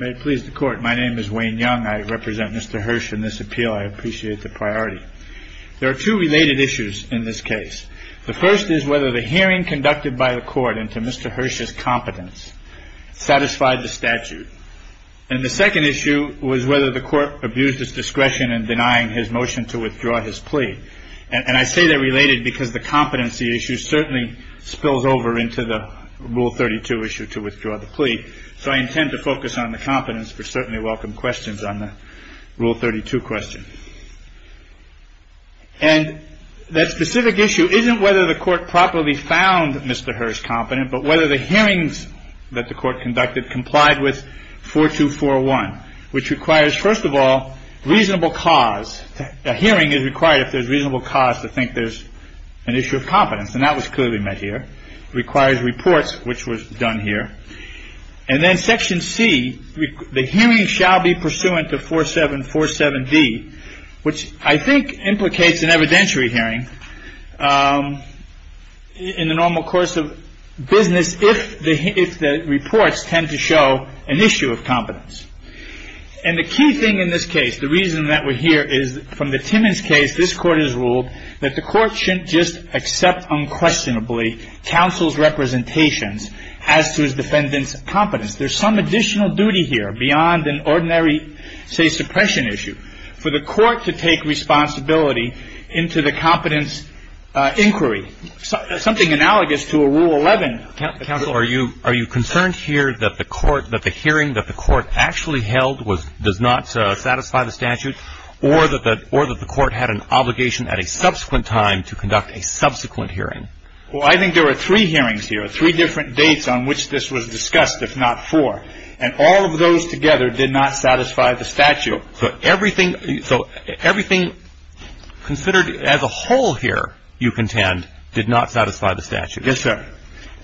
May it please the court. My name is Wayne Young. I represent Mr. Hirsch in this appeal. I appreciate the priority. There are two related issues in this case. The first is whether the hearing conducted by the court into Mr. Hirsch's competence satisfied the statute. And the second issue was whether the court abused its discretion in denying his motion to withdraw his plea. And I say they're related because the competency issue certainly spills over into the Rule 32 issue to withdraw the plea. So I intend to focus on the competence for certainly welcome questions on the Rule 32 question. And that specific issue isn't whether the court properly found Mr. Hirsch competent, but whether the hearings that the court conducted complied with 4241, which requires, first of all, reasonable cause. A hearing is required if there's reasonable cause to think there's an issue of competence. And that was clearly met here requires reports, which was done here. And then Section C, the hearing shall be pursuant to 4747 D, which I think implicates an evidentiary hearing in the normal course of business. If the if the reports tend to show an issue of competence and the key thing in this case, the reason that we're here is from the Timmons case, this court has ruled that the court shouldn't just accept unquestionably counsel's representations as to his defendant's competence. There's some additional duty here beyond an ordinary, say, suppression issue for the court to take responsibility into the competence inquiry, something analogous to a Rule 11. And counsel, are you are you concerned here that the court that the hearing that the court actually held was does not satisfy the statute or that that or that the court had an obligation at a subsequent time to conduct a subsequent hearing? Well, I think there were three hearings here, three different dates on which this was discussed, if not four. And all of those together did not satisfy the statute. So everything. So everything considered as a whole here, you contend, did not satisfy the statute. Yes, sir.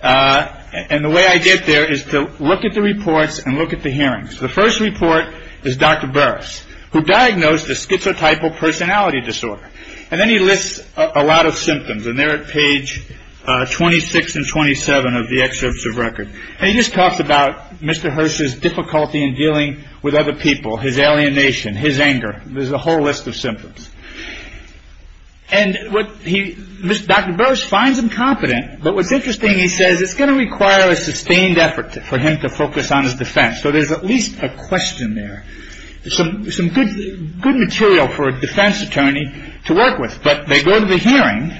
And the way I get there is to look at the reports and look at the hearings. The first report is Dr. Burris, who diagnosed a schizotypal personality disorder. And then he lists a lot of symptoms. And they're at page 26 and 27 of the excerpts of record. And he just talks about Mr. Hearst's difficulty in dealing with other people, his alienation, his anger. There's a whole list of symptoms. And what he Dr. Burris finds him competent. But what's interesting, he says, it's going to require a sustained effort for him to focus on his defense. So there's at least a question there. Some some good, good material for a defense attorney to work with. But they go to the hearing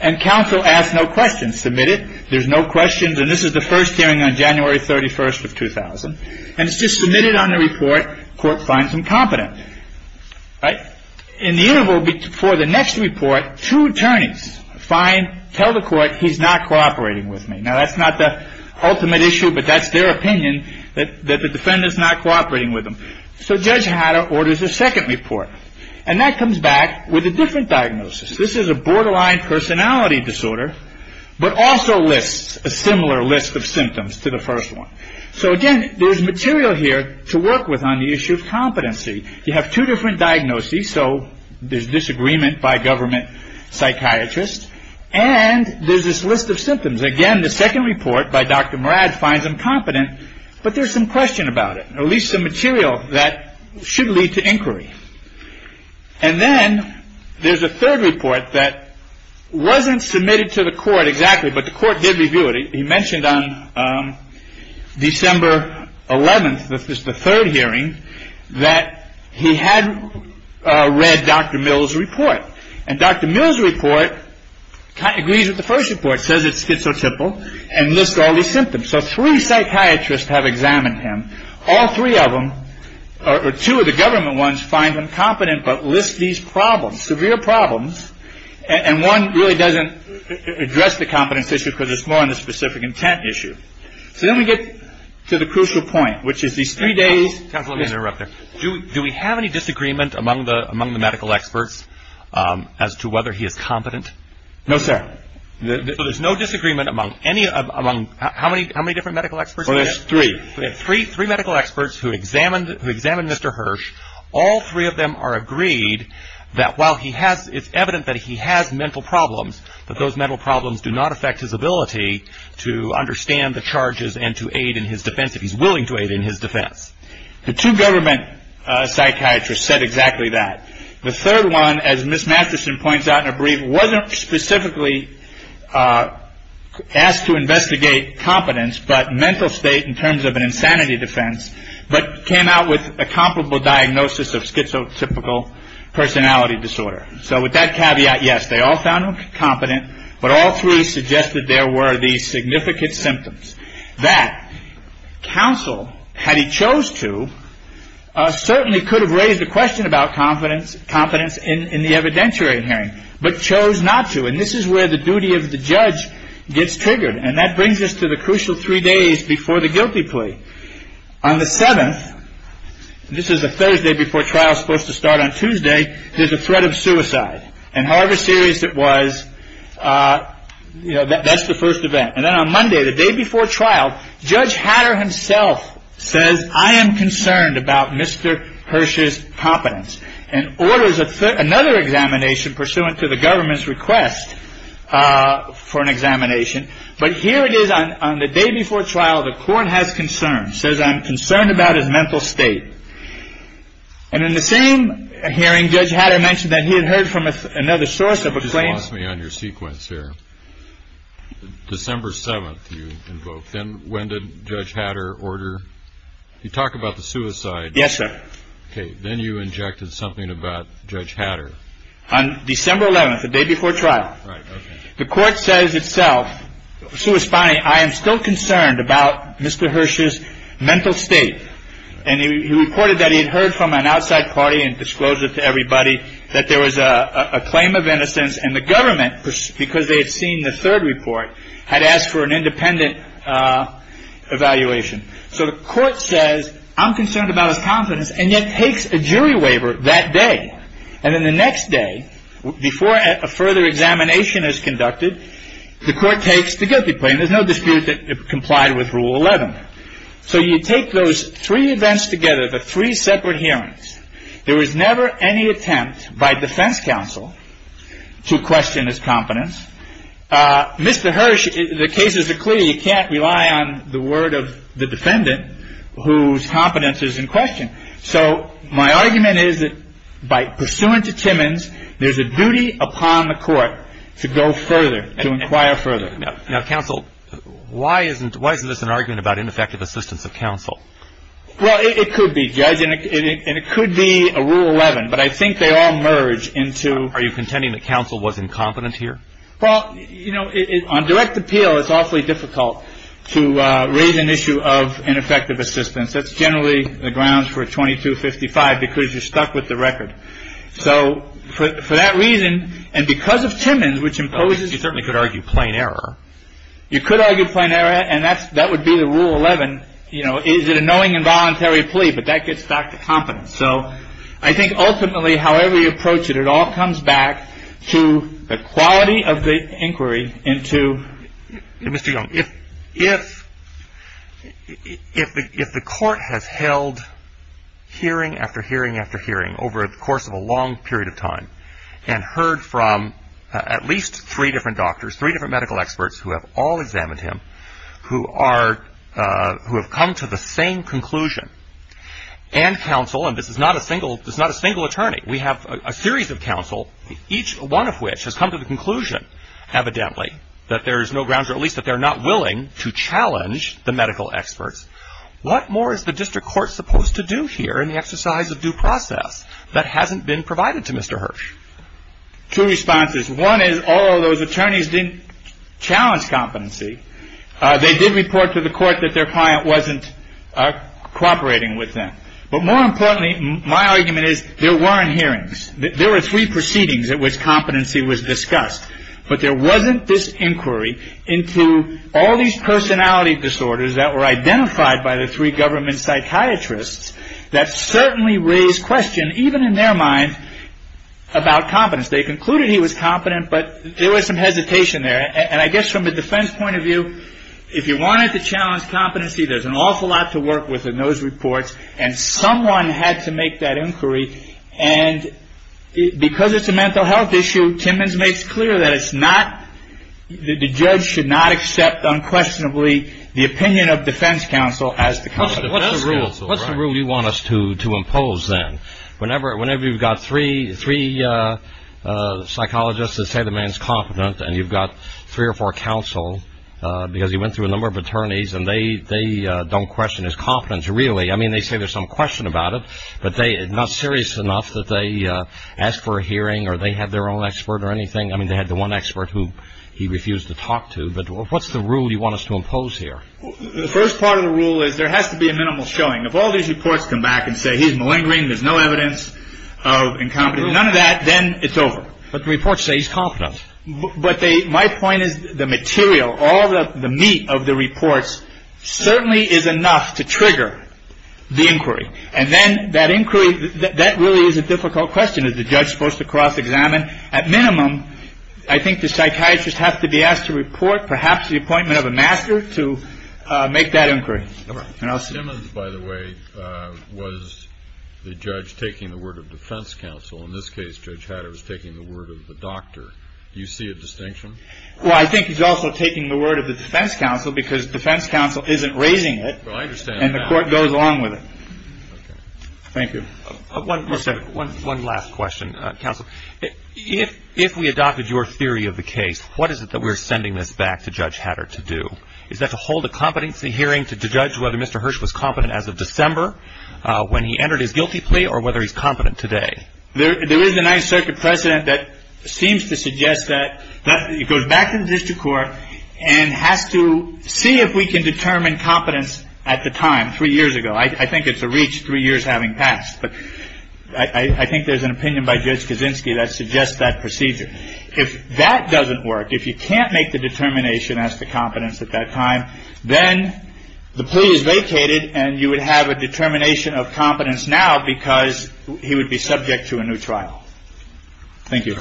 and counsel asked no questions submitted. There's no questions. And this is the first hearing on January 31st of 2000. And it's just submitted on the report. Court finds him competent. Right. In the interval before the next report, two attorneys find tell the court he's not cooperating with me. Now, that's not the ultimate issue, but that's their opinion that that the defendant is not cooperating with them. So Judge Hatter orders a second report and that comes back with a different diagnosis. This is a borderline personality disorder, but also lists a similar list of symptoms to the first one. So, again, there's material here to work with on the issue of competency. You have two different diagnoses. So there's disagreement by government psychiatrists. And there's this list of symptoms. Again, the second report by Dr. Murad finds him competent. But there's some question about it, at least some material that should lead to inquiry. And then there's a third report that wasn't submitted to the court exactly. But the court did review it. He mentioned on December 11th. This is the third hearing that he had read Dr. Mills report. And Dr. Mills report agrees with the first report, says it's schizotypal and list all the symptoms. So three psychiatrists have examined him. All three of them are two of the government ones. But list these problems, severe problems. And one really doesn't address the competence issue because it's more on the specific intent issue. So then we get to the crucial point, which is these three days. Do we have any disagreement among the among the medical experts as to whether he is competent? No, sir. There's no disagreement among any of them. How many? How many different medical experts? Three, three, three medical experts who examined who examined Mr. Hirsch. All three of them are agreed that while he has it's evident that he has mental problems, that those mental problems do not affect his ability to understand the charges and to aid in his defense. If he's willing to aid in his defense, the two government psychiatrists said exactly that. The third one, as Miss Matterson points out in a brief, wasn't specifically asked to investigate competence, but mental state in terms of an insanity defense, but came out with a comparable diagnosis of schizotypical personality disorder. So with that caveat, yes, they all found him competent. But all three suggested there were these significant symptoms that counsel, had he chose to, certainly could have raised the question about confidence, competence in the evidentiary hearing, but chose not to. And this is where the duty of the judge gets triggered. And that brings us to the crucial three days before the guilty plea. On the 7th, this is the Thursday before trial is supposed to start on Tuesday, there's a threat of suicide. And however serious it was, that's the first event. And then on Monday, the day before trial, Judge Hatter himself says, I am concerned about Mr. Hirsch's competence and orders another examination pursuant to the government's request for an examination. But here it is on the day before trial. The court has concerns, says I'm concerned about his mental state. And in the same hearing, Judge Hatter mentioned that he had heard from another source of a claim. Me on your sequence here. December 7th, you invoke. Then when did Judge Hatter order? You talk about the suicide. Yes, sir. Then you injected something about Judge Hatter on December 11th, the day before trial. Right. The court says itself. So it's fine. I am still concerned about Mr. Hirsch's mental state. And he reported that he had heard from an outside party and disclosed it to everybody that there was a claim of innocence. And the government, because they had seen the third report, had asked for an independent evaluation. So the court says, I'm concerned about his competence and yet takes a jury waiver that day. And then the next day, before a further examination is conducted, the court takes the guilty plea. There's no dispute that it complied with Rule 11. So you take those three events together, the three separate hearings. There was never any attempt by defense counsel to question his competence. Mr. Hirsch, the cases are clear. You can't rely on the word of the defendant whose competence is in question. So my argument is that by pursuant to Timmons, there's a duty upon the court to go further, to inquire further. Now, counsel, why isn't this an argument about ineffective assistance of counsel? Well, it could be, Judge. And it could be a Rule 11. But I think they all merge into. Are you contending that counsel was incompetent here? Well, you know, on direct appeal, it's awfully difficult to raise an issue of ineffective assistance. That's generally the grounds for 2255 because you're stuck with the record. So for that reason, and because of Timmons, which imposes. You certainly could argue plain error. You could argue plain error. And that's that would be the Rule 11. You know, is it a knowing and voluntary plea? But that gets back to competence. So I think ultimately, however you approach it, it all comes back to the quality of the inquiry into. Mr. Young, if the court has held hearing after hearing after hearing over the course of a long period of time and heard from at least three different doctors, three different medical experts who have all examined him, who have come to the same conclusion, and counsel, and this is not a single attorney. We have a series of counsel, each one of which has come to the conclusion evidently that there is no grounds or at least that they're not willing to challenge the medical experts. What more is the district court supposed to do here in the exercise of due process that hasn't been provided to Mr. Hirsch? Two responses. One is all of those attorneys didn't challenge competency. They did report to the court that their client wasn't cooperating with them. But more importantly, my argument is there weren't hearings. There were three proceedings at which competency was discussed. But there wasn't this inquiry into all these personality disorders that were identified by the three government psychiatrists that certainly raised questions, even in their mind, about competence. They concluded he was competent, but there was some hesitation there. And I guess from a defense point of view, if you wanted to challenge competency, there's an awful lot to work with in those reports, and someone had to make that inquiry. And because it's a mental health issue, Timmons makes clear that the judge should not accept unquestionably the opinion of defense counsel as the counsel. What's the rule you want us to impose then? Whenever you've got three psychologists that say the man's competent, and you've got three or four counsel because he went through a number of attorneys, and they don't question his competence really. I mean, they say there's some question about it, but not serious enough that they ask for a hearing or they have their own expert or anything. I mean, they had the one expert who he refused to talk to. But what's the rule you want us to impose here? The first part of the rule is there has to be a minimal showing. If all these reports come back and say he's malingering, there's no evidence of incompetence, none of that, then it's over. But the reports say he's competent. My point is the material, all the meat of the reports certainly is enough to trigger the inquiry. And then that inquiry, that really is a difficult question. Is the judge supposed to cross-examine? At minimum, I think the psychiatrist has to be asked to report perhaps the appointment of a master to make that inquiry. Timmons, by the way, was the judge taking the word of defense counsel. In this case, Judge Hatter was taking the word of the doctor. Do you see a distinction? Well, I think he's also taking the word of the defense counsel because defense counsel isn't raising it. Well, I understand that. And the court goes along with it. Okay. Thank you. One last question, counsel. If we adopted your theory of the case, what is it that we're sending this back to Judge Hatter to do? Is that to hold a competency hearing to judge whether Mr. Hirsch was competent as of December when he entered his guilty plea or whether he's competent today? There is a Ninth Circuit precedent that seems to suggest that. It goes back to the district court and has to see if we can determine competence at the time, three years ago. I think it's a reach, three years having passed. But I think there's an opinion by Judge Kaczynski that suggests that procedure. If that doesn't work, if you can't make the determination as to competence at that time, then the plea is vacated and you would have a determination of competence now because he would be subject to a new trial. Thank you.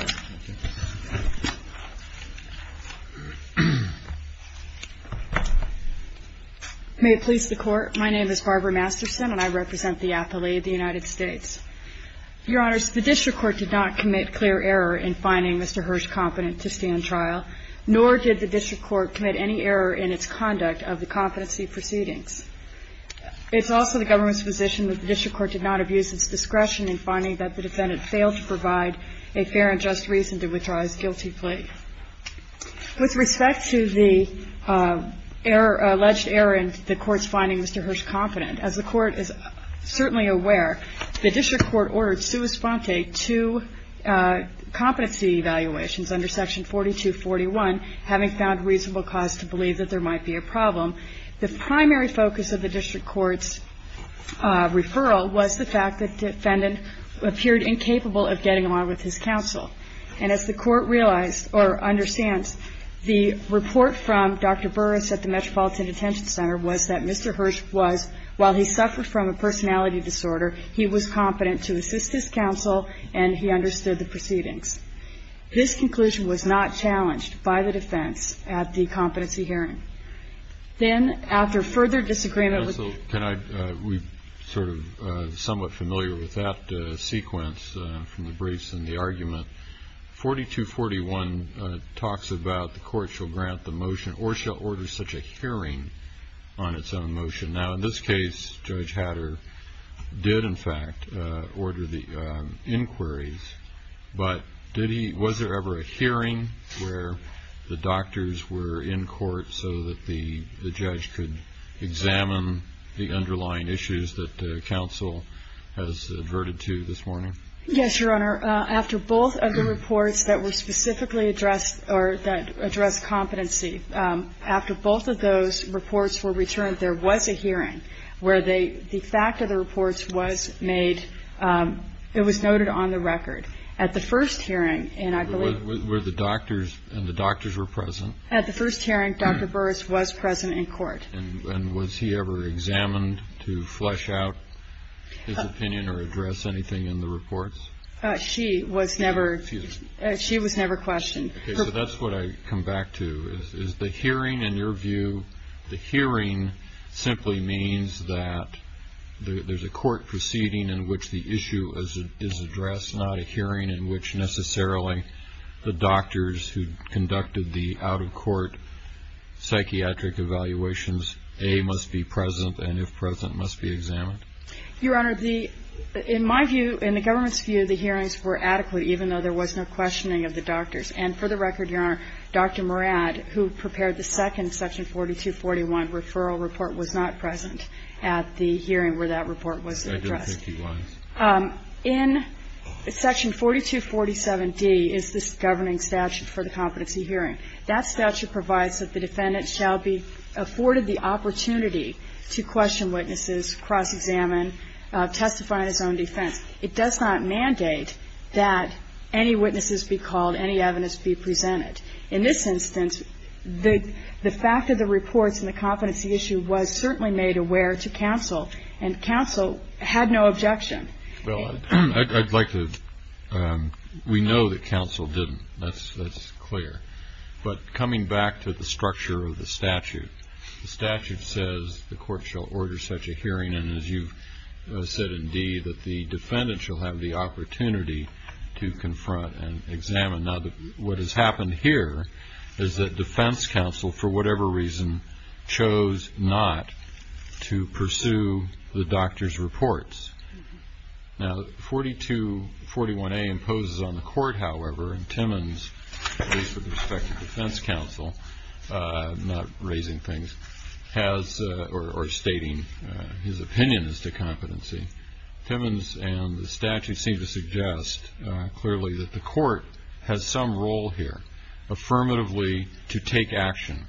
May it please the Court. My name is Barbara Masterson, and I represent the athlete of the United States. Your Honors, the district court did not commit clear error in finding Mr. Hirsch competent to stand trial, nor did the district court commit any error in its conduct of the competency proceedings. It's also the government's position that the district court did not abuse its discretion in finding that the defendant failed to provide a fair and just reason to withdraw his guilty plea. With respect to the alleged error in the court's finding Mr. Hirsch competent, as the court is certainly aware, the district court ordered sua sponte two competency evaluations under Section 4241, having found reasonable cause to believe that there might be a problem. The primary focus of the district court's referral was the fact that the defendant appeared incapable of getting along with his counsel. And as the court realized, or understands, the report from Dr. Burris at the Metropolitan Detention Center was that Mr. Hirsch was competent to assist his counsel, and he understood the proceedings. This conclusion was not challenged by the defense at the competency hearing. Then, after further disagreement with the ---- Can I ---- we're sort of somewhat familiar with that sequence from the briefs and the argument. 4241 talks about the court shall grant the motion, or shall order such a hearing on its own motion. Now, in this case, Judge Hatter did, in fact, order the inquiries. But did he ---- was there ever a hearing where the doctors were in court so that the judge could examine the underlying issues that counsel has adverted to this morning? Yes, Your Honor. After both of the reports that were specifically addressed or that addressed competency, after both of those reports were returned, there was a hearing where they ---- the fact of the reports was made ---- it was noted on the record. At the first hearing, and I believe ---- Were the doctors ---- and the doctors were present? At the first hearing, Dr. Burris was present in court. And was he ever examined to flesh out his opinion or address anything in the reports? She was never ---- Excuse me. She was never questioned. Okay. So that's what I come back to, is the hearing, in your view, the hearing simply means that there's a court proceeding in which the issue is addressed, not a hearing in which necessarily the doctors who conducted the out-of-court psychiatric evaluations, A, must be present, and if present, must be examined. Your Honor, the ---- in my view, in the government's view, the hearings were adequate, even though there was no questioning of the doctors. And for the record, Your Honor, Dr. Morad, who prepared the second Section 4241 referral report, was not present at the hearing where that report was addressed. Section 51? In Section 4247D is this governing statute for the competency hearing. That statute provides that the defendant shall be afforded the opportunity to question witnesses, cross-examine, testify in his own defense. It does not mandate that any witnesses be called, any evidence be presented. In this instance, the fact of the reports and the competency issue was certainly made aware to counsel, and counsel had no objection. Well, I'd like to ---- we know that counsel didn't. That's clear. But coming back to the structure of the statute, the statute says the court shall order such a hearing, and as you've said indeed, that the defendant shall have the opportunity to confront and examine. Now, what has happened here is that defense counsel, for whatever reason, chose not to pursue the doctor's reports. Now, 4241A imposes on the court, however, and Timmons, at least with respect to defense counsel, not raising things, or stating his opinion as to competency, Timmons and the statute seem to suggest clearly that the court has some role here, affirmatively to take action.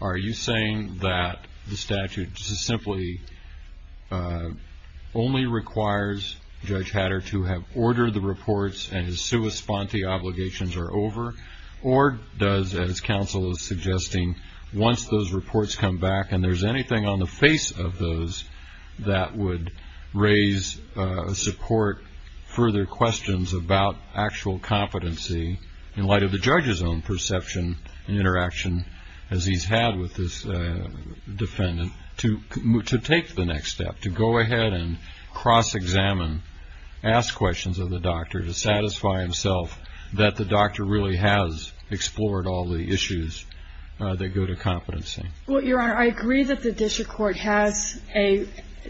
Are you saying that the statute simply only requires Judge Hatter to have ordered the reports and his sua sponte obligations are over, or does, as counsel is suggesting, once those reports come back and there's anything on the face of those that would raise support, further questions about actual competency, in light of the judge's own perception and interaction as he's had with this defendant, to take the next step, to go ahead and cross-examine, ask questions of the doctor to satisfy himself that the doctor really has explored all the issues that go to competency? Well, Your Honor, I agree that the district court has a,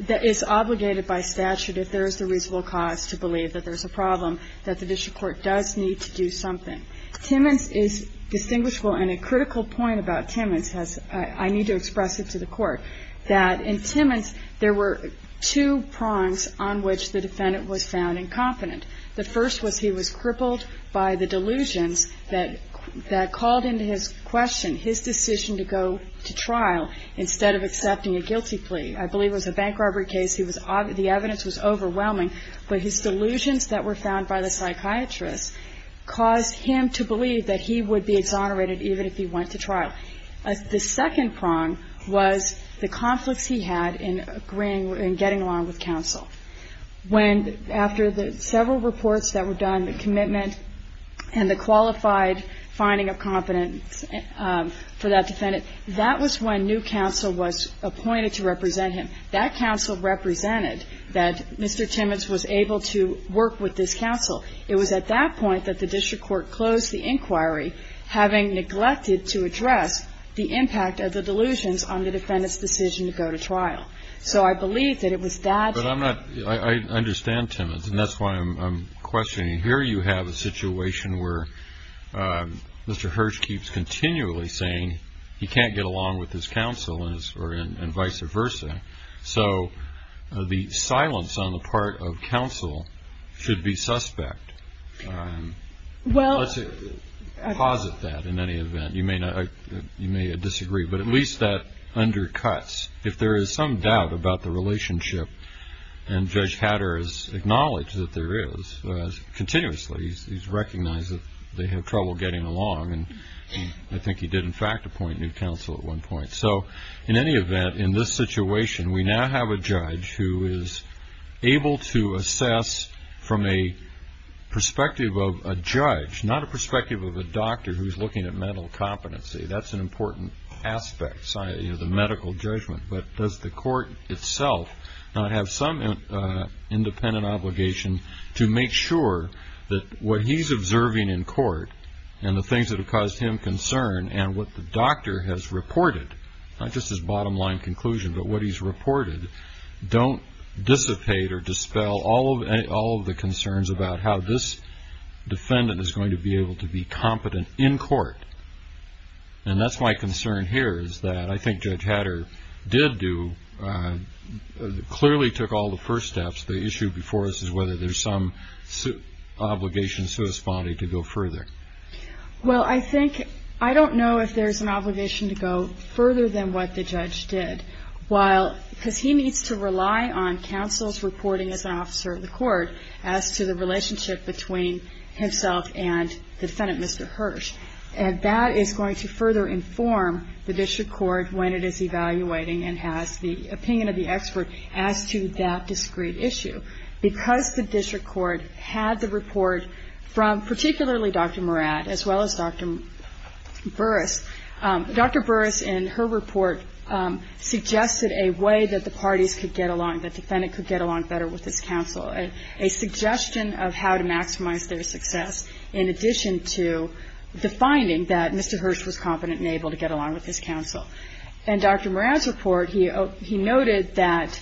that is obligated by statute, if there is the reasonable cause to believe that there's a problem, that the district court does need to do something. Timmons is distinguishable, and a critical point about Timmons has, I need to express it to the court, that in Timmons there were two prongs on which the defendant was found incompetent. The first was he was crippled by the delusions that called into his question his decision to go to trial instead of accepting a guilty plea. I believe it was a bank robbery case. He was, the evidence was overwhelming, but his delusions that were found by the psychiatrist caused him to believe that he would be exonerated even if he went to trial. The second prong was the conflicts he had in agreeing, in getting along with counsel. When, after the several reports that were done, the commitment and the qualified finding of competence for that defendant, that was when new counsel was appointed to represent him. That counsel represented that Mr. Timmons was able to work with this counsel. It was at that point that the district court closed the inquiry, having neglected to address the impact of the delusions on the defendant's decision to go to trial. So I believe that it was that. But I'm not, I understand Timmons, and that's why I'm questioning. Here you have a situation where Mr. Hirsch keeps continually saying he can't get along with his counsel and vice versa. So the silence on the part of counsel should be suspect. Let's posit that in any event. You may disagree, but at least that undercuts. If there is some doubt about the relationship, and Judge Hatter has acknowledged that there is, continuously he's recognized that they have trouble getting along, and I think he did, in fact, appoint new counsel at one point. So in any event, in this situation, we now have a judge who is able to assess from a perspective of a judge, not a perspective of a doctor who's looking at mental competency. That's an important aspect, the medical judgment. But does the court itself not have some independent obligation to make sure that what he's observing in court and the things that have caused him concern and what the doctor has reported, not just his bottom line conclusion, but what he's reported, don't dissipate or dispel all of the concerns about how this defendant is going to be able to be competent in court. And that's my concern here is that I think Judge Hatter did do, clearly took all the first steps. The issue before us is whether there's some obligation, so to speak, to go further. Well, I think, I don't know if there's an obligation to go further than what the judge did. While, because he needs to rely on counsel's reporting as an officer of the court as to the relationship between himself and the defendant, Mr. Hirsch. And that is going to further inform the district court when it is evaluating and has the opinion of the expert as to that discrete issue. Because the district court had the report from particularly Dr. Murad as well as Dr. Burris, Dr. Burris in her report suggested a way that the parties could get along, the defendant could get along better with his counsel, a suggestion of how to maximize their success in addition to the finding that Mr. Hirsch was competent and able to get along with his counsel. And Dr. Murad's report, he noted that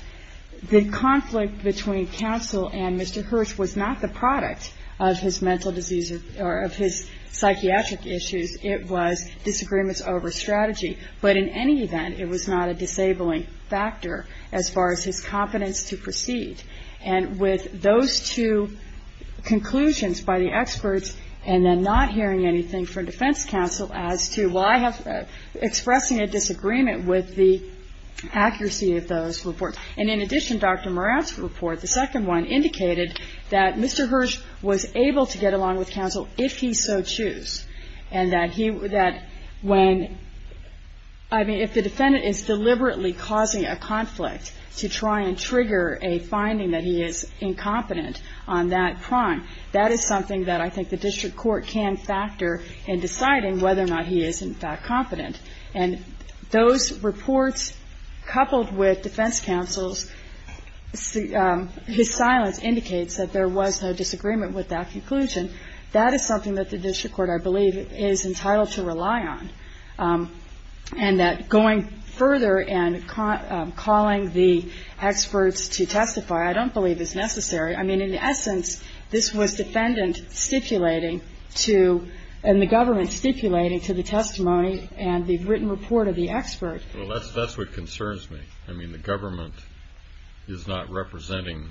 the conflict between counsel and Mr. Hirsch was not the product of his mental disease or of his psychiatric issues. It was disagreements over strategy. But in any event, it was not a disabling factor as far as his competence to proceed. And with those two conclusions by the experts and then not hearing anything from defense counsel as to, well, I have expressing a disagreement with the accuracy of those reports. And in addition, Dr. Murad's report, the second one, indicated that Mr. Hirsch was able to get along with counsel if he so choose. And that he, that when, I mean, if the defendant is deliberately causing a conflict to try and trigger a finding that he is incompetent on that crime, that is something that I think the district court can factor in deciding whether or not he is, in fact, competent. And those reports coupled with defense counsel's, his silence indicates that there was no disagreement with that conclusion. That is something that the district court, I believe, is entitled to rely on. And that going further and calling the experts to testify I don't believe is necessary. I mean, in essence, this was defendant stipulating to, and the government stipulating to the testimony and the written report of the expert. Well, that's what concerns me. I mean, the government is not representing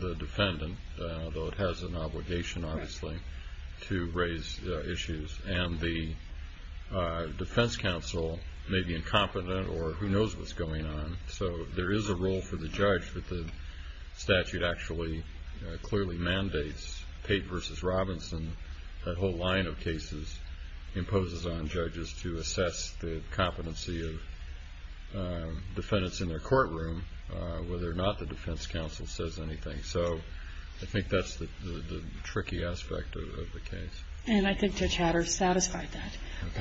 the defendant, though it has an obligation, obviously, to raise issues. And the defense counsel may be incompetent or who knows what's going on. So there is a role for the judge that the statute actually clearly mandates. Pate v. Robinson, that whole line of cases, imposes on judges to assess the competency of defendants in their courtroom, whether or not the defense counsel says anything. So I think that's the tricky aspect of the case. And I think Judge Hatter has satisfied that.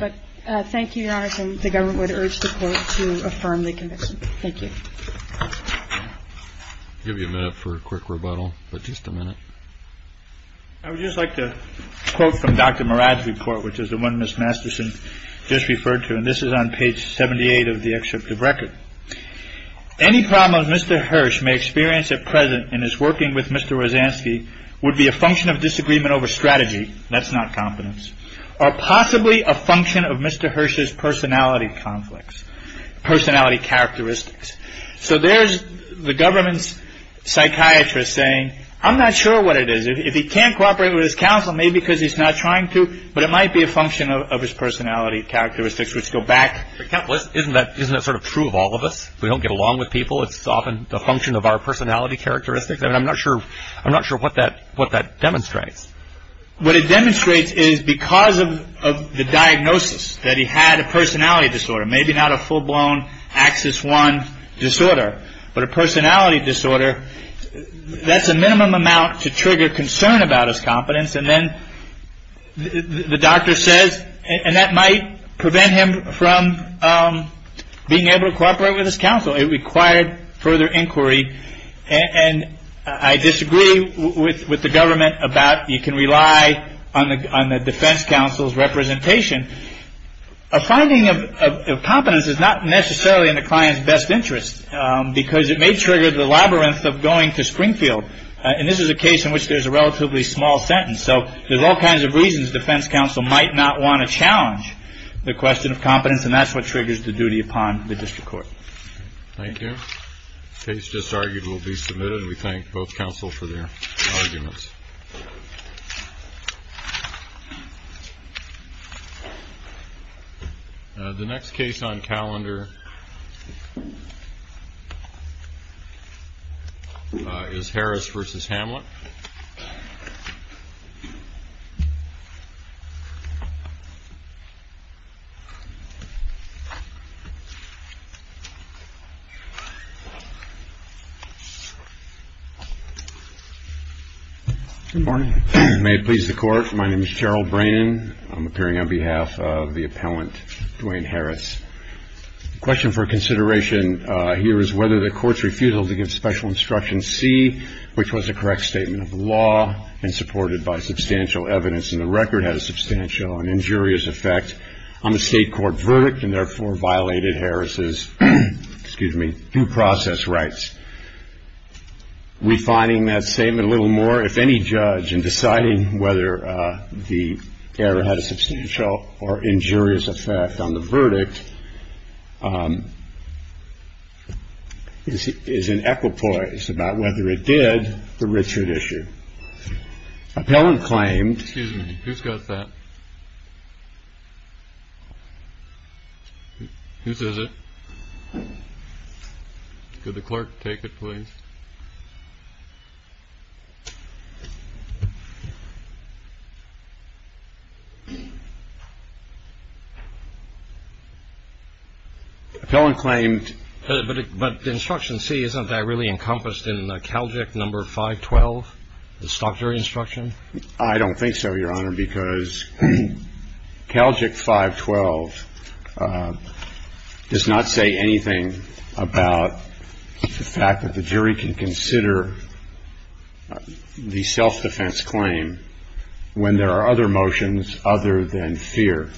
Okay. But thank you, Your Honor, Mr. Robinson, the government would urge the court to affirm the conviction. Thank you. I'll give you a minute for a quick rebuttal, but just a minute. I would just like to quote from Dr. Murad's report, which is the one Ms. Masterson just referred to, and this is on page 78 of the excerpt of record. Any problems Mr. Hirsch may experience at present in his working with Mr. Rozanski would be a function of disagreement over strategy, that's not competence, or possibly a function of Mr. Hirsch's personality conflicts, personality characteristics. So there's the government's psychiatrist saying, I'm not sure what it is. If he can't cooperate with his counsel, maybe because he's not trying to, but it might be a function of his personality characteristics, which go back. Isn't that sort of true of all of us? We don't get along with people. It's often a function of our personality characteristics. I mean, I'm not sure what that demonstrates. What it demonstrates is because of the diagnosis, that he had a personality disorder, maybe not a full-blown Axis I disorder, but a personality disorder, that's a minimum amount to trigger concern about his competence, and then the doctor says, and that might prevent him from being able to cooperate with his counsel. It required further inquiry, and I disagree with the government about, you can rely on the defense counsel's representation. A finding of competence is not necessarily in the client's best interest, because it may trigger the labyrinth of going to Springfield, and this is a case in which there's a relatively small sentence. So there's all kinds of reasons the defense counsel might not want to challenge the question of competence, and that's what triggers the duty upon the district court. Thank you. Case disargued will be submitted. We thank both counsel for their arguments. The next case on calendar is Harris v. Hamlet. Good morning. May it please the Court. My name is Gerald Brannan. I'm appearing on behalf of the appellant, Duane Harris. The question for consideration here is whether the court's refusal to give special instruction C, which was a correct statement of the law and supported by substantial evidence in the record, had a substantial and injurious effect on the state court verdict, and therefore violated Harris's due process rights. Refining that statement a little more, if any judge in deciding whether the error had a substantial or injurious effect on the verdict, is in equipoise about whether it did the Richard issue. Appellant claimed. Excuse me. Who's got that? Who says it? Could the clerk take it, please? Appellant claimed. But the instruction C, isn't that really encompassed in Calgic number 512, the stock jury instruction? I don't think so, Your Honor, because Calgic 512 does not say anything about the fact that the jury can consider the self-defense claim when there are other motions other than fear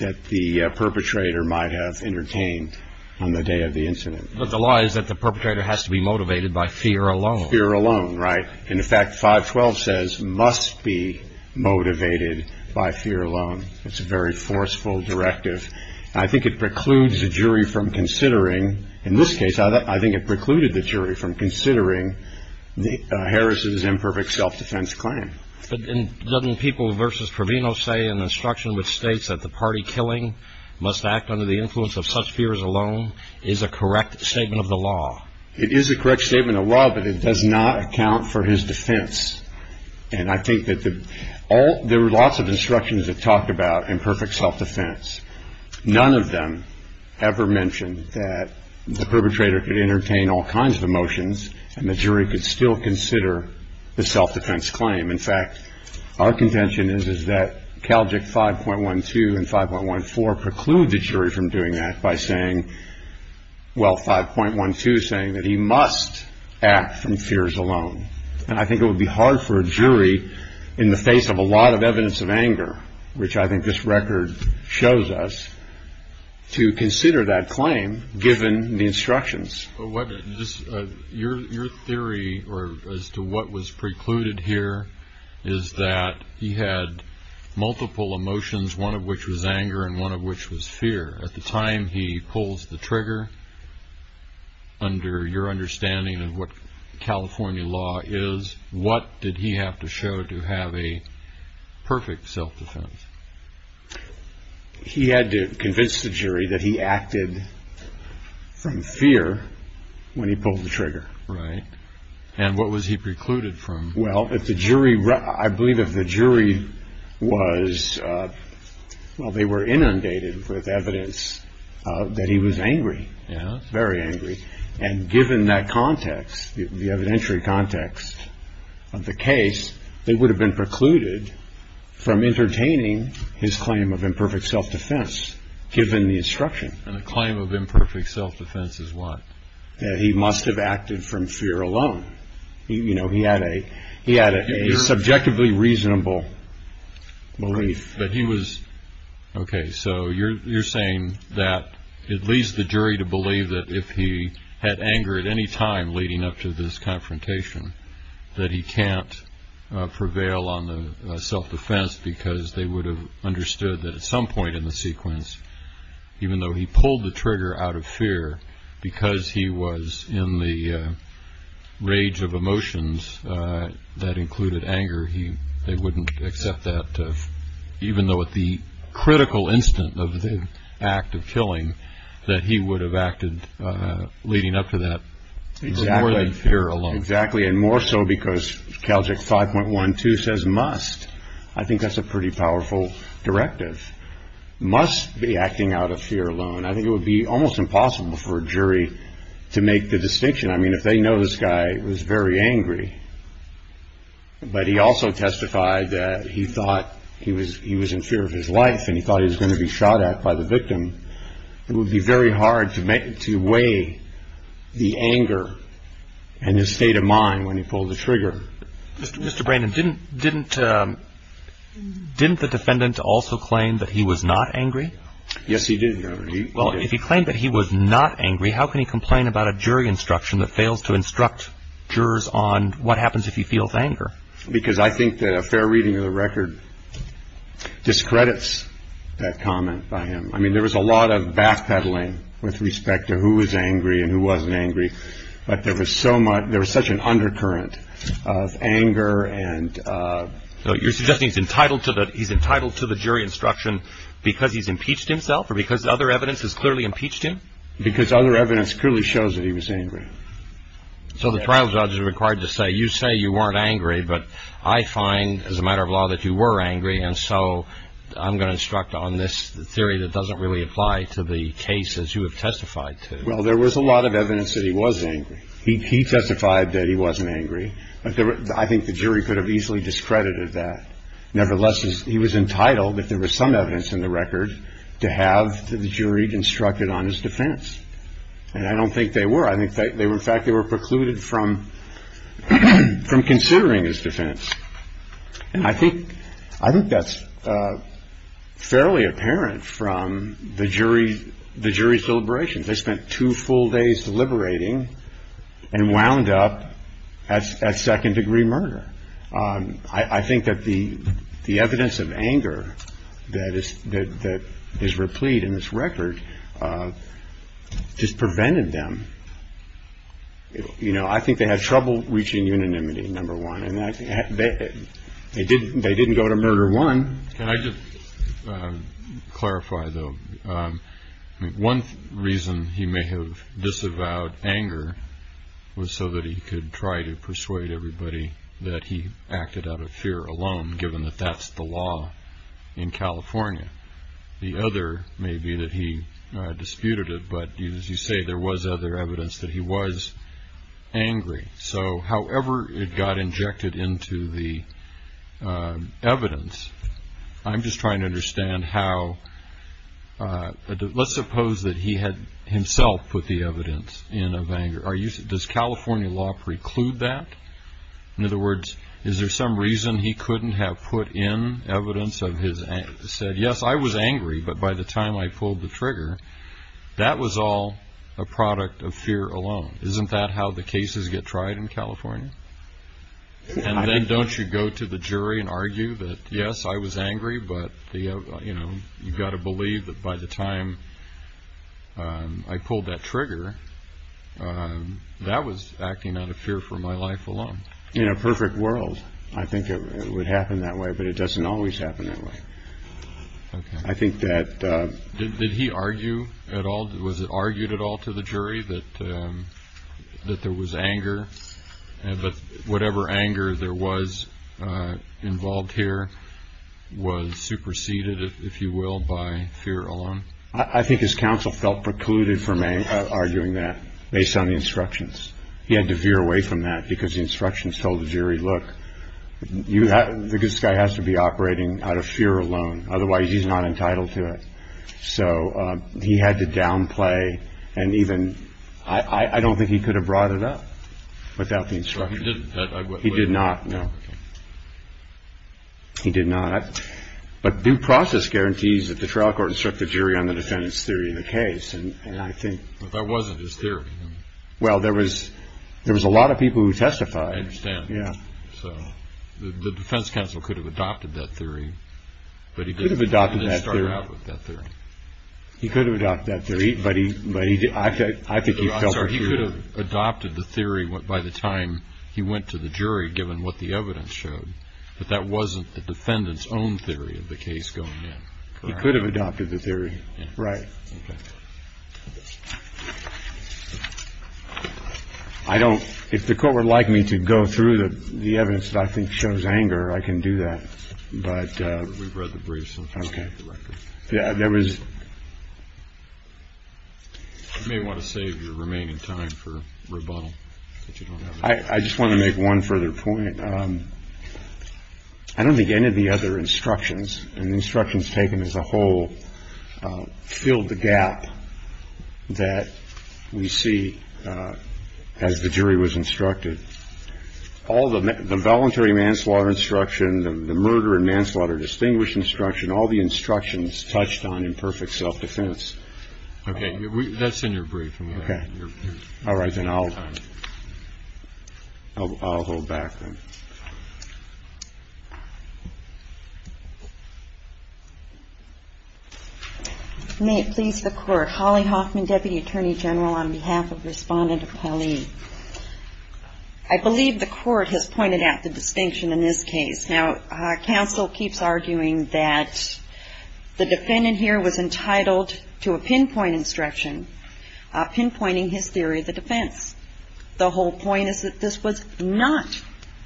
that the perpetrator might have entertained on the day of the incident. But the law is that the perpetrator has to be motivated by fear alone. Fear alone, right. And in fact, 512 says, must be motivated by fear alone. It's a very forceful directive. I think it precludes the jury from considering, in this case, I think it precluded the jury from considering Harris' imperfect self-defense claim. But doesn't People v. Proveno say in the instruction, which states that the party killing must act under the influence of such fears alone, is a correct statement of the law? It is a correct statement of the law, but it does not account for his defense. And I think that there were lots of instructions that talked about imperfect self-defense. None of them ever mentioned that the perpetrator could entertain all kinds of motions and the jury could still consider the self-defense claim. In fact, our contention is that Calgic 5.12 and 5.14 preclude the jury from doing that by saying, well, 5.12 is saying that he must act from fears alone. And I think it would be hard for a jury in the face of a lot of evidence of anger, which I think this record shows us, to consider that claim given the instructions. Your theory as to what was precluded here is that he had multiple emotions, one of which was anger and one of which was fear. At the time he pulls the trigger, under your understanding of what California law is, what did he have to show to have a perfect self-defense? He had to convince the jury that he acted from fear when he pulled the trigger. Right. And what was he precluded from? Well, I believe if the jury was, well, they were inundated with evidence that he was angry, very angry. And given that context, the evidentiary context of the case, they would have been precluded from entertaining his claim of imperfect self-defense given the instruction. And the claim of imperfect self-defense is what? That he must have acted from fear alone. You know, he had a subjectively reasonable belief. OK, so you're saying that it leads the jury to believe that if he had anger at any time leading up to this confrontation, that he can't prevail on the self-defense because they would have understood that at some point in the sequence, even though he pulled the trigger out of fear because he was in the rage of emotions that included anger, they wouldn't accept that, even though at the critical instant of the act of killing, that he would have acted leading up to that. Exactly. More than fear alone. Exactly. And more so because Calject 5.12 says must. I think that's a pretty powerful directive. Must be acting out of fear alone. I think it would be almost impossible for a jury to make the distinction. I mean, if they know this guy was very angry, but he also testified that he thought he was in fear of his life and he thought he was going to be shot at by the victim, it would be very hard to weigh the anger and his state of mind when he pulled the trigger. Mr. Brandon, didn't the defendant also claim that he was not angry? Yes, he did. Well, if he claimed that he was not angry, how can he complain about a jury instruction that fails to instruct jurors on what happens if he feels anger? Because I think that a fair reading of the record discredits that comment by him. I mean, there was a lot of backpedaling with respect to who was angry and who wasn't angry, So you're suggesting he's entitled to the jury instruction because he's impeached himself or because other evidence has clearly impeached him? Because other evidence clearly shows that he was angry. So the trial judge is required to say, you say you weren't angry, but I find as a matter of law that you were angry, and so I'm going to instruct on this theory that doesn't really apply to the cases you have testified to. Well, there was a lot of evidence that he was angry. He testified that he wasn't angry. I think the jury could have easily discredited that. Nevertheless, he was entitled, if there was some evidence in the record, to have the jury instructed on his defense. And I don't think they were. In fact, they were precluded from considering his defense. And I think that's fairly apparent from the jury's deliberations. They spent two full days deliberating and wound up at second-degree murder. I think that the evidence of anger that is replete in this record just prevented them. You know, I think they had trouble reaching unanimity, number one, and they didn't go to murder one. Can I just clarify, though? One reason he may have disavowed anger was so that he could try to persuade everybody that he acted out of fear alone, given that that's the law in California. The other may be that he disputed it, but as you say, there was other evidence that he was angry. So however it got injected into the evidence, I'm just trying to understand how – let's suppose that he had himself put the evidence in of anger. Does California law preclude that? In other words, is there some reason he couldn't have put in evidence of his – said, yes, I was angry, but by the time I pulled the trigger, that was all a product of fear alone. Isn't that how the cases get tried in California? And then don't you go to the jury and argue that, yes, I was angry, but you've got to believe that by the time I pulled that trigger, that was acting out of fear for my life alone. In a perfect world, I think it would happen that way, but it doesn't always happen that way. I think that – Did he argue at all – was it argued at all to the jury that there was anger, but whatever anger there was involved here was superseded, if you will, by fear alone? I think his counsel felt precluded from arguing that based on the instructions. He had to veer away from that because the instructions told the jury, look, this guy has to be operating out of fear alone, otherwise he's not entitled to it. So he had to downplay and even – I don't think he could have brought it up without the instructions. He did not, no. He did not. But due process guarantees that the trial court instruct the jury on the defendant's theory of the case, and I think – But that wasn't his theory. Well, there was a lot of people who testified. I understand. Yeah. So the defense counsel could have adopted that theory. But he didn't start out with that theory. He could have adopted that theory, but he – I think he felt precluded. I'm sorry. He could have adopted the theory by the time he went to the jury, given what the evidence showed, but that wasn't the defendant's own theory of the case going in. He could have adopted the theory. Right. Okay. I don't – if the court would like me to go through the evidence that I think shows anger, I can do that. But – We've read the briefs. Okay. Yeah, there was – You may want to save your remaining time for rebuttal. I just want to make one further point. I don't think any of the other instructions, and the instructions taken as a whole, filled the gap that we see as the jury was instructed. All the voluntary manslaughter instruction, the murder and manslaughter distinguished instruction, all the instructions touched on imperfect self-defense. Okay. That's in your brief. Okay. All right. Then I'll hold back then. May it please the Court. Thank you, Your Honor. I have a question for Holly Hoffman, Deputy Attorney General, on behalf of Respondent Appelli. I believe the Court has pointed out the distinction in this case. Now, counsel keeps arguing that the defendant here was entitled to a pinpoint instruction, pinpointing his theory of the defense. The whole point is that this was not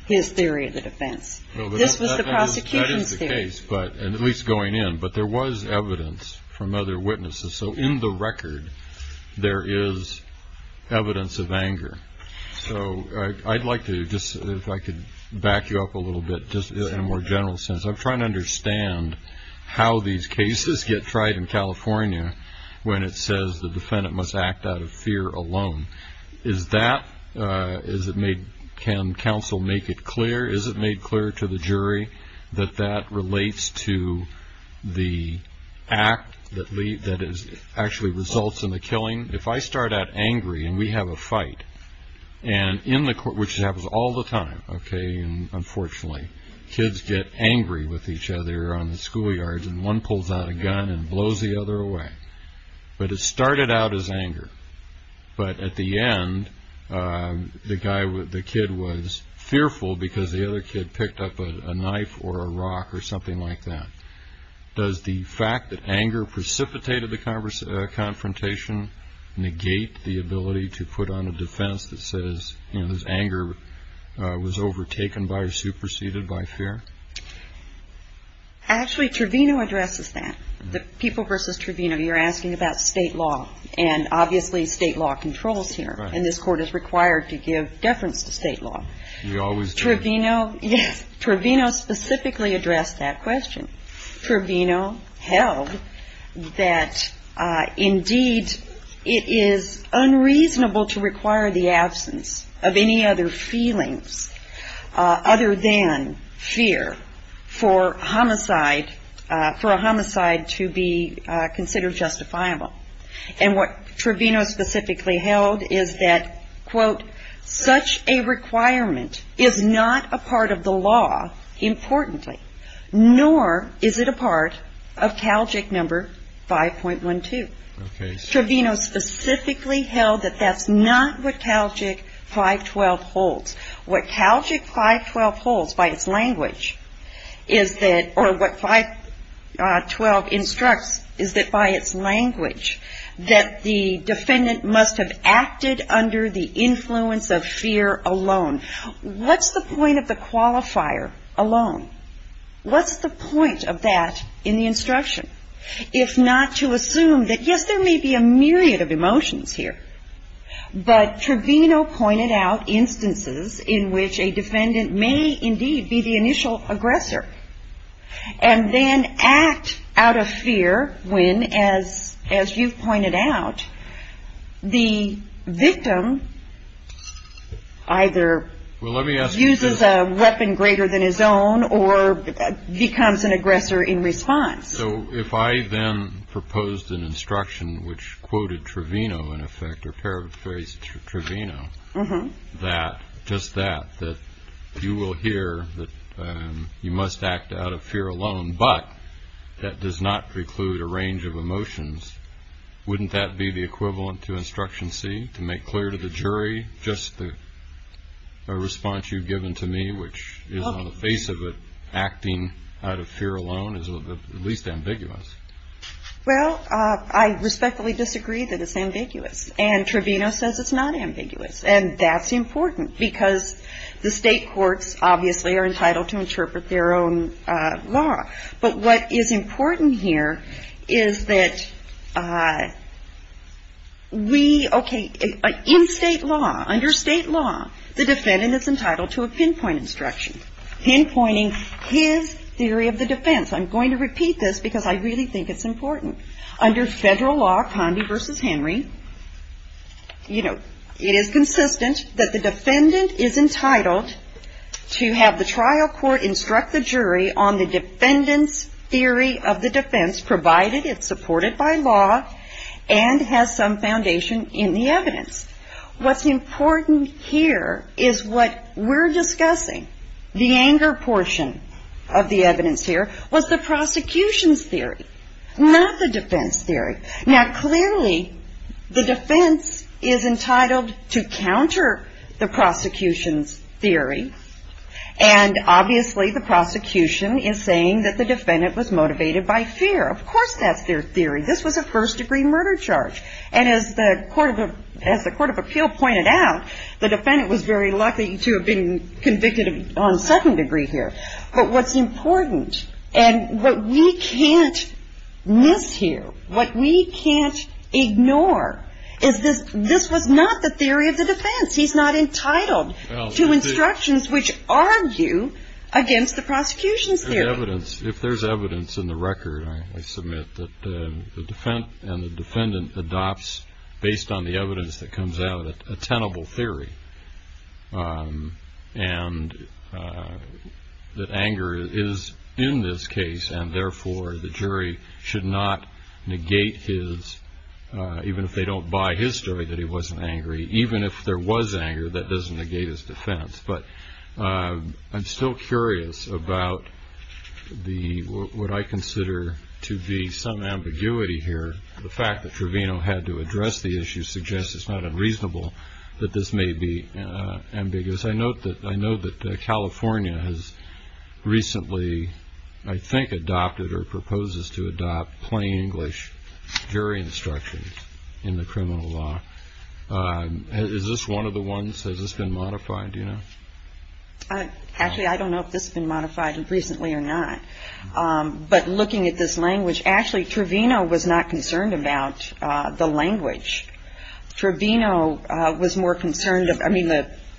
his theory of the defense. This was the prosecution's theory. That is the case, at least going in. But there was evidence from other witnesses. So in the record, there is evidence of anger. So I'd like to just, if I could back you up a little bit, just in a more general sense. I'm trying to understand how these cases get tried in California when it says the defendant must act out of fear alone. Is that – can counsel make it clear? Is it made clear to the jury that that relates to the act that actually results in the killing? If I start out angry and we have a fight, which happens all the time, okay, and unfortunately kids get angry with each other on the schoolyards and one pulls out a gun and blows the other away. But it started out as anger. But at the end, the kid was fearful because the other kid picked up a knife or a rock or something like that. Does the fact that anger precipitated the confrontation negate the ability to put on a defense that says his anger was overtaken by or superseded by fear? Actually, Trevino addresses that, the people versus Trevino. You know, you're asking about state law, and obviously state law controls here, and this Court is required to give deference to state law. You always do. Trevino, yes, Trevino specifically addressed that question. Trevino held that, indeed, it is unreasonable to require the absence of any other feelings other than fear for a homicide to be considered justifiable. And what Trevino specifically held is that, quote, such a requirement is not a part of the law, importantly, nor is it a part of Calgic No. 5.12. Trevino specifically held that that's not what Calgic 5.12 holds. What Calgic 5.12 holds by its language is that, or what 5.12 instructs, is that by its language that the defendant must have acted under the influence of fear alone. What's the point of the qualifier alone? What's the point of that in the instruction if not to assume that, yes, there may be a myriad of emotions here, but Trevino pointed out instances in which a defendant may indeed be the initial aggressor and then act out of fear when, as you've pointed out, the victim either uses a weapon greater than his own or becomes an aggressor in response. So if I then proposed an instruction which quoted Trevino, in effect, or paraphrased Trevino, that just that, that you will hear that you must act out of fear alone, but that does not preclude a range of emotions, wouldn't that be the equivalent to instruction C, to make clear to the jury just the response you've given to me, which is on the face of it acting out of fear alone is at least ambiguous? Well, I respectfully disagree that it's ambiguous, and Trevino says it's not ambiguous, and that's important because the state courts obviously are entitled to interpret their own law. But what is important here is that we, okay, in state law, under state law, the defendant is entitled to a pinpoint instruction, pinpointing his theory of the defense. I'm going to repeat this because I really think it's important. Under federal law, Condi v. Henry, you know, it is consistent that the defendant is entitled to have the trial court instruct the jury on the defendant's theory of the defense, provided it's supported by law and has some foundation in the evidence. What's important here is what we're discussing, the anger portion of the evidence here, was the prosecution's theory, not the defense theory. Now, clearly, the defense is entitled to counter the prosecution's theory, and obviously the prosecution is saying that the defendant was motivated by fear. Of course that's their theory. This was a first-degree murder charge. And as the Court of Appeal pointed out, the defendant was very lucky to have been convicted on second degree here. But what's important, and what we can't miss here, what we can't ignore is this was not the theory of the defense. He's not entitled to instructions which argue against the prosecution's theory. If there's evidence in the record, I submit, that the defendant adopts, based on the evidence that comes out, a tenable theory, and that anger is in this case, and therefore the jury should not negate his, even if they don't buy his story that he wasn't angry, even if there was anger, that doesn't negate his defense. But I'm still curious about what I consider to be some ambiguity here. The fact that Trevino had to address the issue suggests it's not unreasonable that this may be ambiguous. I note that California has recently, I think, adopted or proposes to adopt plain English jury instructions in the criminal law. Is this one of the ones? Has this been modified? Do you know? Actually, I don't know if this has been modified recently or not. But looking at this language, actually, Trevino was not concerned about the language. Trevino was more concerned, I mean,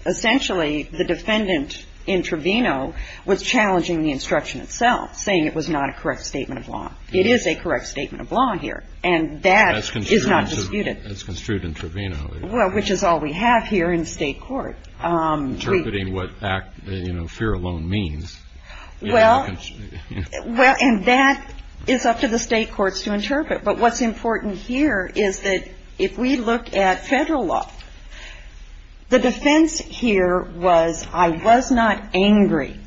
essentially, the defendant in Trevino was challenging the instruction itself, saying it was not a correct statement of law. It is a correct statement of law here, and that is not disputed. That's construed in Trevino. Well, which is all we have here in state court. Interpreting what, you know, fear alone means. Well, and that is up to the state courts to interpret. But what's important here is that if we look at federal law, the defense here was I was not angry.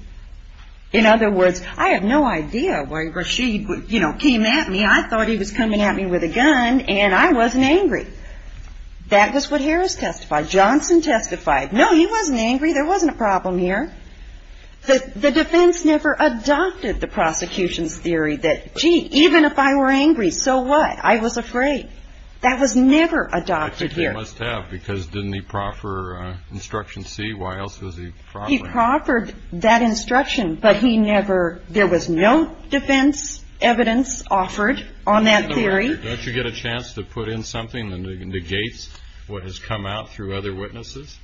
In other words, I have no idea why Rashid, you know, came at me. I thought he was coming at me with a gun, and I wasn't angry. That was what Harris testified. Johnson testified. No, he wasn't angry. There wasn't a problem here. The defense never adopted the prosecution's theory that, gee, even if I were angry, so what? I was afraid. That was never adopted here. I think they must have, because didn't he proffer instruction C? Why else was he proffering? He proffered that instruction, but he never – There was no defense evidence offered on that theory. Don't you get a chance to put in something that negates what has come out through other witnesses?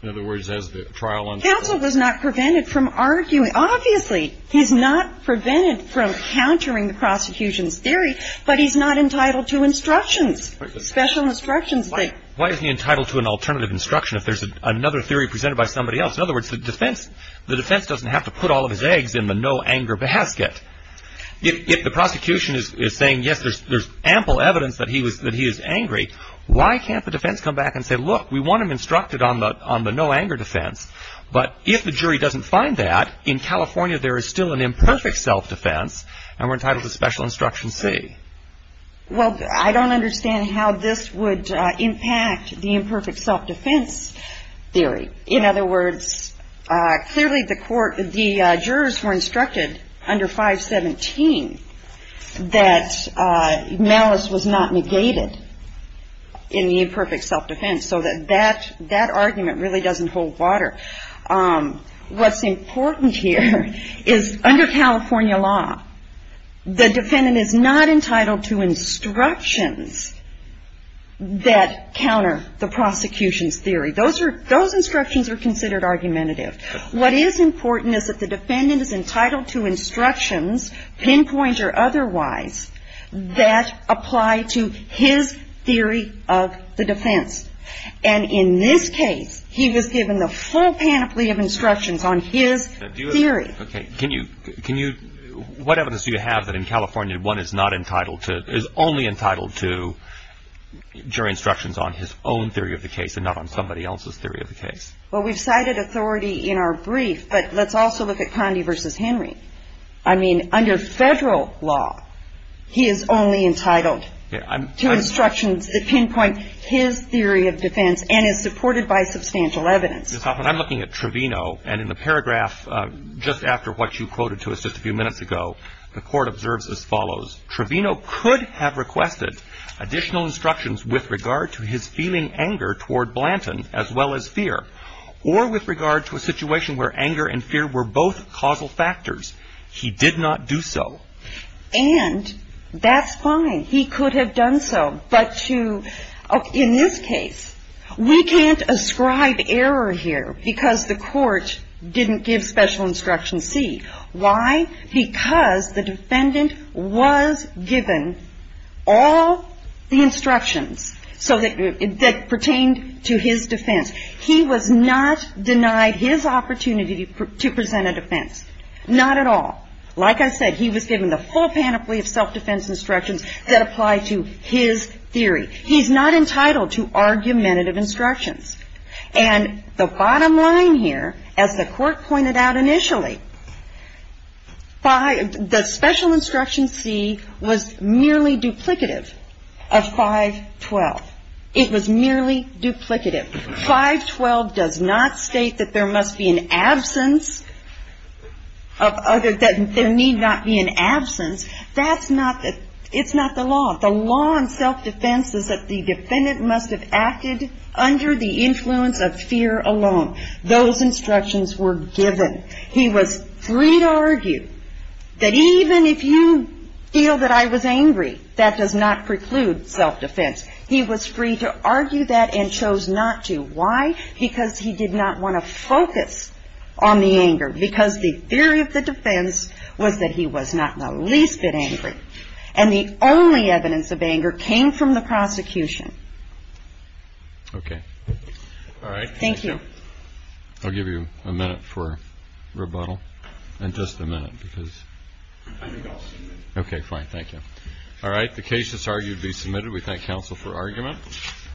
In other words, as the trial – Counsel was not prevented from arguing. Obviously, he's not prevented from countering the prosecution's theory, but he's not entitled to instructions, special instructions. Why is he entitled to an alternative instruction if there's another theory presented by somebody else? In other words, the defense doesn't have to put all of his eggs in the no-anger basket. If the prosecution is saying, yes, there's ample evidence that he is angry, why can't the defense come back and say, look, we want him instructed on the no-anger defense, but if the jury doesn't find that, in California there is still an imperfect self-defense, and we're entitled to special instruction C? Well, I don't understand how this would impact the imperfect self-defense theory. In other words, clearly the jurors were instructed under 517 that malice was not negated in the imperfect self-defense, so that that argument really doesn't hold water. What's important here is under California law, the defendant is not entitled to instructions that counter the prosecution's theory. Those are – those instructions are considered argumentative. What is important is that the defendant is entitled to instructions, pinpoint or otherwise, that apply to his theory of the defense. And in this case, he was given the full panoply of instructions on his theory. Okay. Can you – what evidence do you have that in California one is not entitled to – is only entitled to jury instructions on his own theory of the case and not on somebody else's theory of the case? Well, we've cited authority in our brief, but let's also look at Condi v. Henry. I mean, under federal law, he is only entitled to instructions that pinpoint his theory of defense and is supported by substantial evidence. Ms. Hoffman, I'm looking at Trevino, and in the paragraph just after what you quoted to us just a few minutes ago, the court observes as follows. Trevino could have requested additional instructions with regard to his feeling anger toward Blanton as well as fear, or with regard to a situation where anger and fear were both causal factors. He did not do so. And that's fine. He could have done so. But to – in this case, we can't ascribe error here because the court didn't give special instruction C. Why? Because the defendant was given all the instructions so that – that pertained to his defense. He was not denied his opportunity to present a defense. Not at all. Like I said, he was given the full panoply of self-defense instructions that apply to his theory. He's not entitled to argumentative instructions. And the bottom line here, as the court pointed out initially, the special instruction C was merely duplicative of 512. It was merely duplicative. 512 does not state that there must be an absence of other – that there need not be an absence. That's not the – it's not the law. The law in self-defense is that the defendant must have acted under the influence of fear alone. Those instructions were given. He was free to argue that even if you feel that I was angry, that does not preclude self-defense. He was free to argue that and chose not to. Why? Because he did not want to focus on the anger. Because the theory of the defense was that he was not the least bit angry. And the only evidence of anger came from the prosecution. Okay. All right. Thank you. I'll give you a minute for rebuttal and just a minute because – I think I'll submit. Okay, fine. Thank you. All right. The case is argued to be submitted. We thank counsel for argument.